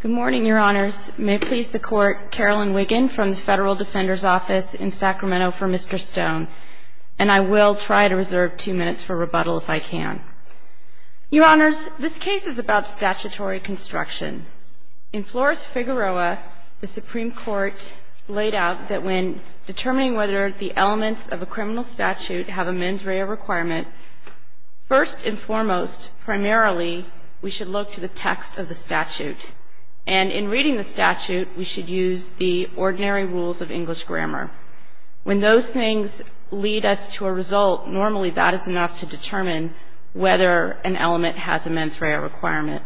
Good morning, Your Honors. May it please the Court, Carolyn Wiggin from the Federal Defender's Office in Sacramento for Mr. Stone. And I will try to reserve two minutes for rebuttal if I can. Your Honors, this case is about statutory construction. In Flores-Figueroa, the Supreme Court laid out that when determining whether the elements of a criminal statute have a mens rea requirement, first and foremost, primarily, we should look to the text of the statute. And in reading the statute, we should use the ordinary rules of English grammar. When those things lead us to a result, normally that is enough to determine whether an element has a mens rea requirement.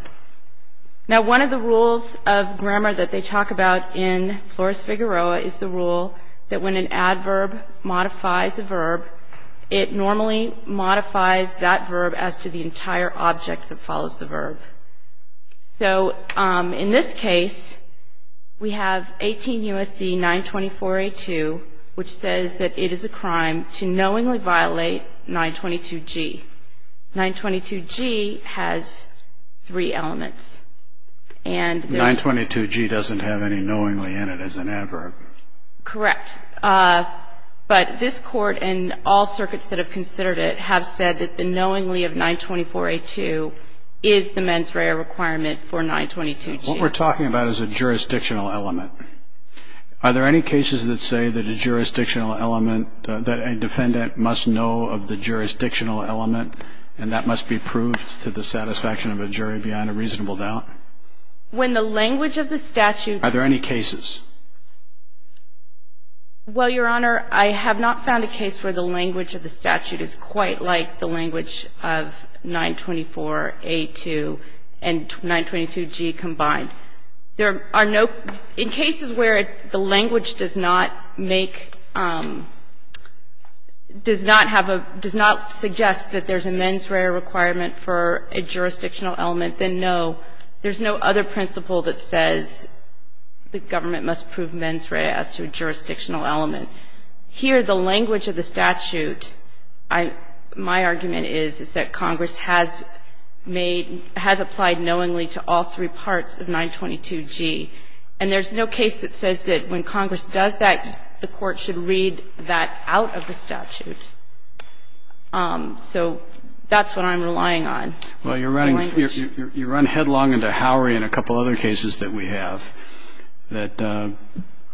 Now, one of the rules of grammar that they talk about in Flores-Figueroa is the rule that when an adverb modifies a verb, it normally modifies that verb as to the entire object that follows the verb. So in this case, we have 18 U.S.C. 924-A2, which says that it is a crime to knowingly violate 922-G. 922-G has three elements. And there's... 922-G doesn't have any knowingly in it as an adverb. Correct. But this Court and all circuits that have considered it have said that the knowingly of 924-A2 is the mens rea requirement for 922-G. What we're talking about is a jurisdictional element. Are there any cases that say that a jurisdictional element, that a defendant must know of the jurisdictional element and that must be proved to the satisfaction of a jury beyond a reasonable doubt? When the language of the statute... Are there any cases? Well, Your Honor, I have not found a case where the language of the statute is quite like the language of 924-A2 and 922-G combined. There are no – in cases where the language does not make – does not have a – does not suggest that there's a mens rea requirement for a jurisdictional element, then no. There's no other principle that says the government must prove mens rea as to a jurisdictional element. Here, the language of the statute, my argument is, is that Congress has made – has applied knowingly to all three parts of 922-G. And there's no case that says that when Congress does that, the Court should read that out of the statute. So that's what I'm relying on. Well, you're running – you run headlong into Howery and a couple other cases that we have that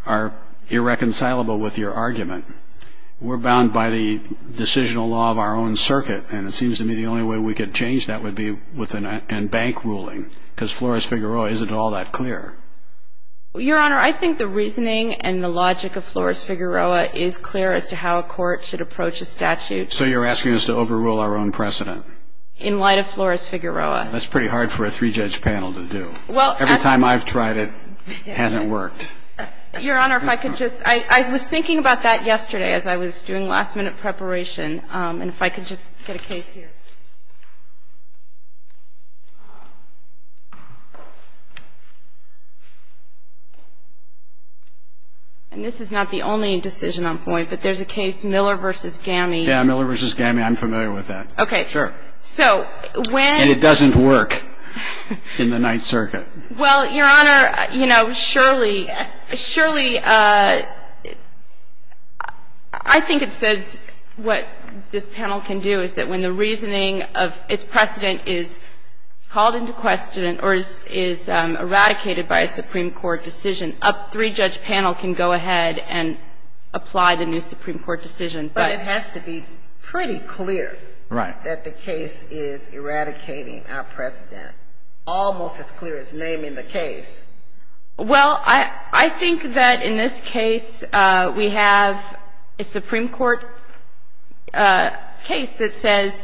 are irreconcilable with your argument. We're bound by the decisional law of our own circuit, and it seems to me the only way we could change that would be with a bank ruling, because Flores-Figueroa isn't all that clear. Well, Your Honor, I think the reasoning and the logic of Flores-Figueroa is clear as to how a court should approach a statute. So you're asking us to overrule our own precedent? In light of Flores-Figueroa. That's pretty hard for a three-judge panel to do. Well – Every time I've tried it, it hasn't worked. Your Honor, if I could just – I was thinking about that yesterday as I was doing last-minute preparation, and if I could just get a case here. And this is not the only decision on point, but there's a case, Miller v. Gowney. Yeah, Miller v. Gowney. I'm familiar with that. Okay. So when – And it doesn't work in the Ninth Circuit. Well, Your Honor, you know, surely, surely – I think it says what this panel can do is that when the reasoning of its precedent is called into question or is eradicated by a Supreme Court decision, a three-judge panel can go ahead and apply the new Supreme Court decision. But it has to be pretty clear – Right. – that the case is eradicating our precedent, almost as clear as naming the case. Well, I think that in this case, we have a Supreme Court case that says,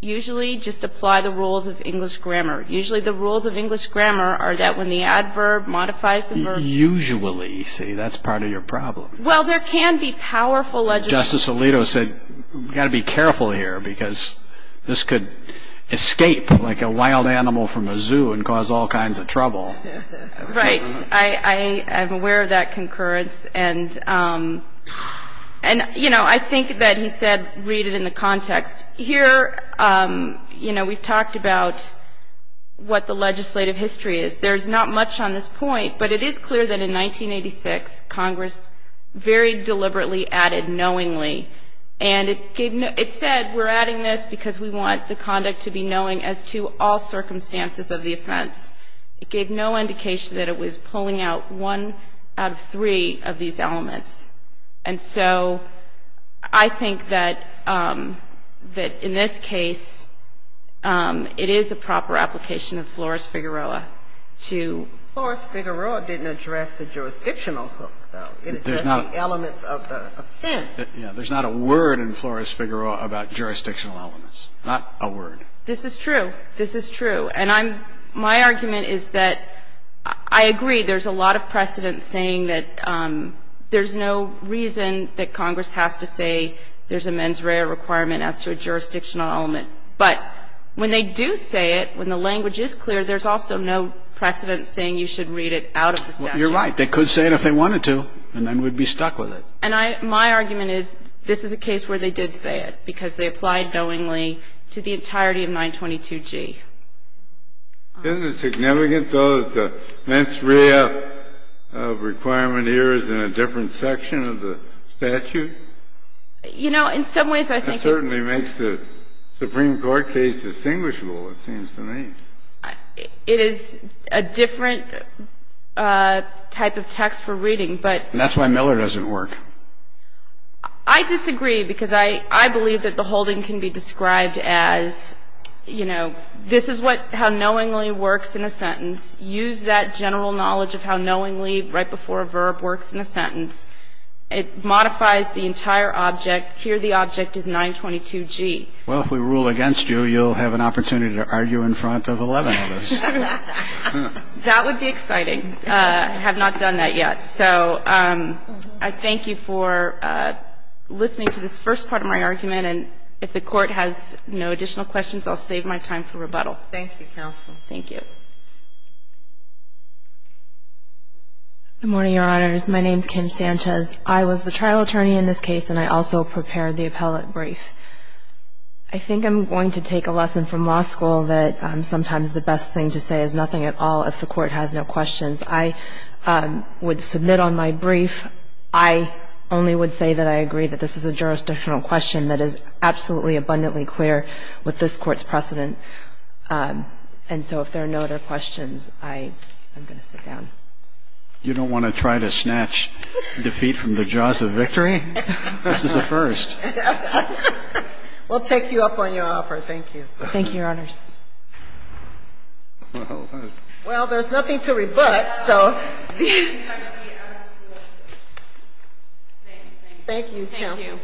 usually just apply the rules of English grammar. Usually the rules of English grammar are that when the adverb modifies the verb – Usually, you see. Well, there can be powerful legislation – Justice Alito said we've got to be careful here because this could escape like a wild animal from a zoo and cause all kinds of trouble. Right. I'm aware of that concurrence. And, you know, I think that he said read it in the context. Here, you know, we've talked about what the legislative history is. There's not much on this point, but it is clear that in 1986, Congress very deliberately added knowingly. And it gave no – it said we're adding this because we want the conduct to be knowing as to all circumstances of the offense. It gave no indication that it was pulling out one out of three of these elements. And so I think that in this case, it is a proper application of Flores-Figueroa to – Flores-Figueroa didn't address the jurisdictional hook, though. It addressed the elements of the offense. Yeah. There's not a word in Flores-Figueroa about jurisdictional elements. Not a word. This is true. This is true. And I'm – my argument is that I agree there's a lot of precedent saying that there's no reason that Congress has to say there's a mens rea requirement as to a jurisdictional element. But when they do say it, when the language is clear, there's also no precedent saying you should read it out of the statute. You're right. They could say it if they wanted to, and then we'd be stuck with it. And I – my argument is this is a case where they did say it because they applied knowingly to the entirety of 922G. Isn't it significant, though, that the mens rea requirement here is in a different section of the statute? You know, in some ways I think it – It certainly makes the Supreme Court case distinguishable, it seems to me. It is a different type of text for reading, but – And that's why Miller doesn't work. I disagree because I believe that the holding can be described as, you know, this is what – how knowingly works in a sentence. Use that general knowledge of how knowingly right before a verb works in a sentence. It modifies the entire object. Here the object is 922G. Well, if we rule against you, you'll have an opportunity to argue in front of 11 of us. That would be exciting. I have not done that yet. So I thank you for listening to this first part of my argument, and if the Court has no additional questions, I'll save my time for rebuttal. Thank you, counsel. Thank you. Good morning, Your Honors. My name is Kim Sanchez. I was the trial attorney in this case, and I also prepared the appellate brief. I think I'm going to take a lesson from law school that sometimes the best thing to say is nothing at all if the Court has no questions. I would submit on my brief. I only would say that I agree that this is a jurisdictional question that is absolutely, abundantly clear with this Court's precedent. And so if there are no other questions, I am going to sit down. You don't want to try to snatch defeat from the jaws of victory? This is a first. We'll take you up on your offer. Thank you. Thank you, Your Honors. Well, there's nothing to rebut, so. Thank you, counsel.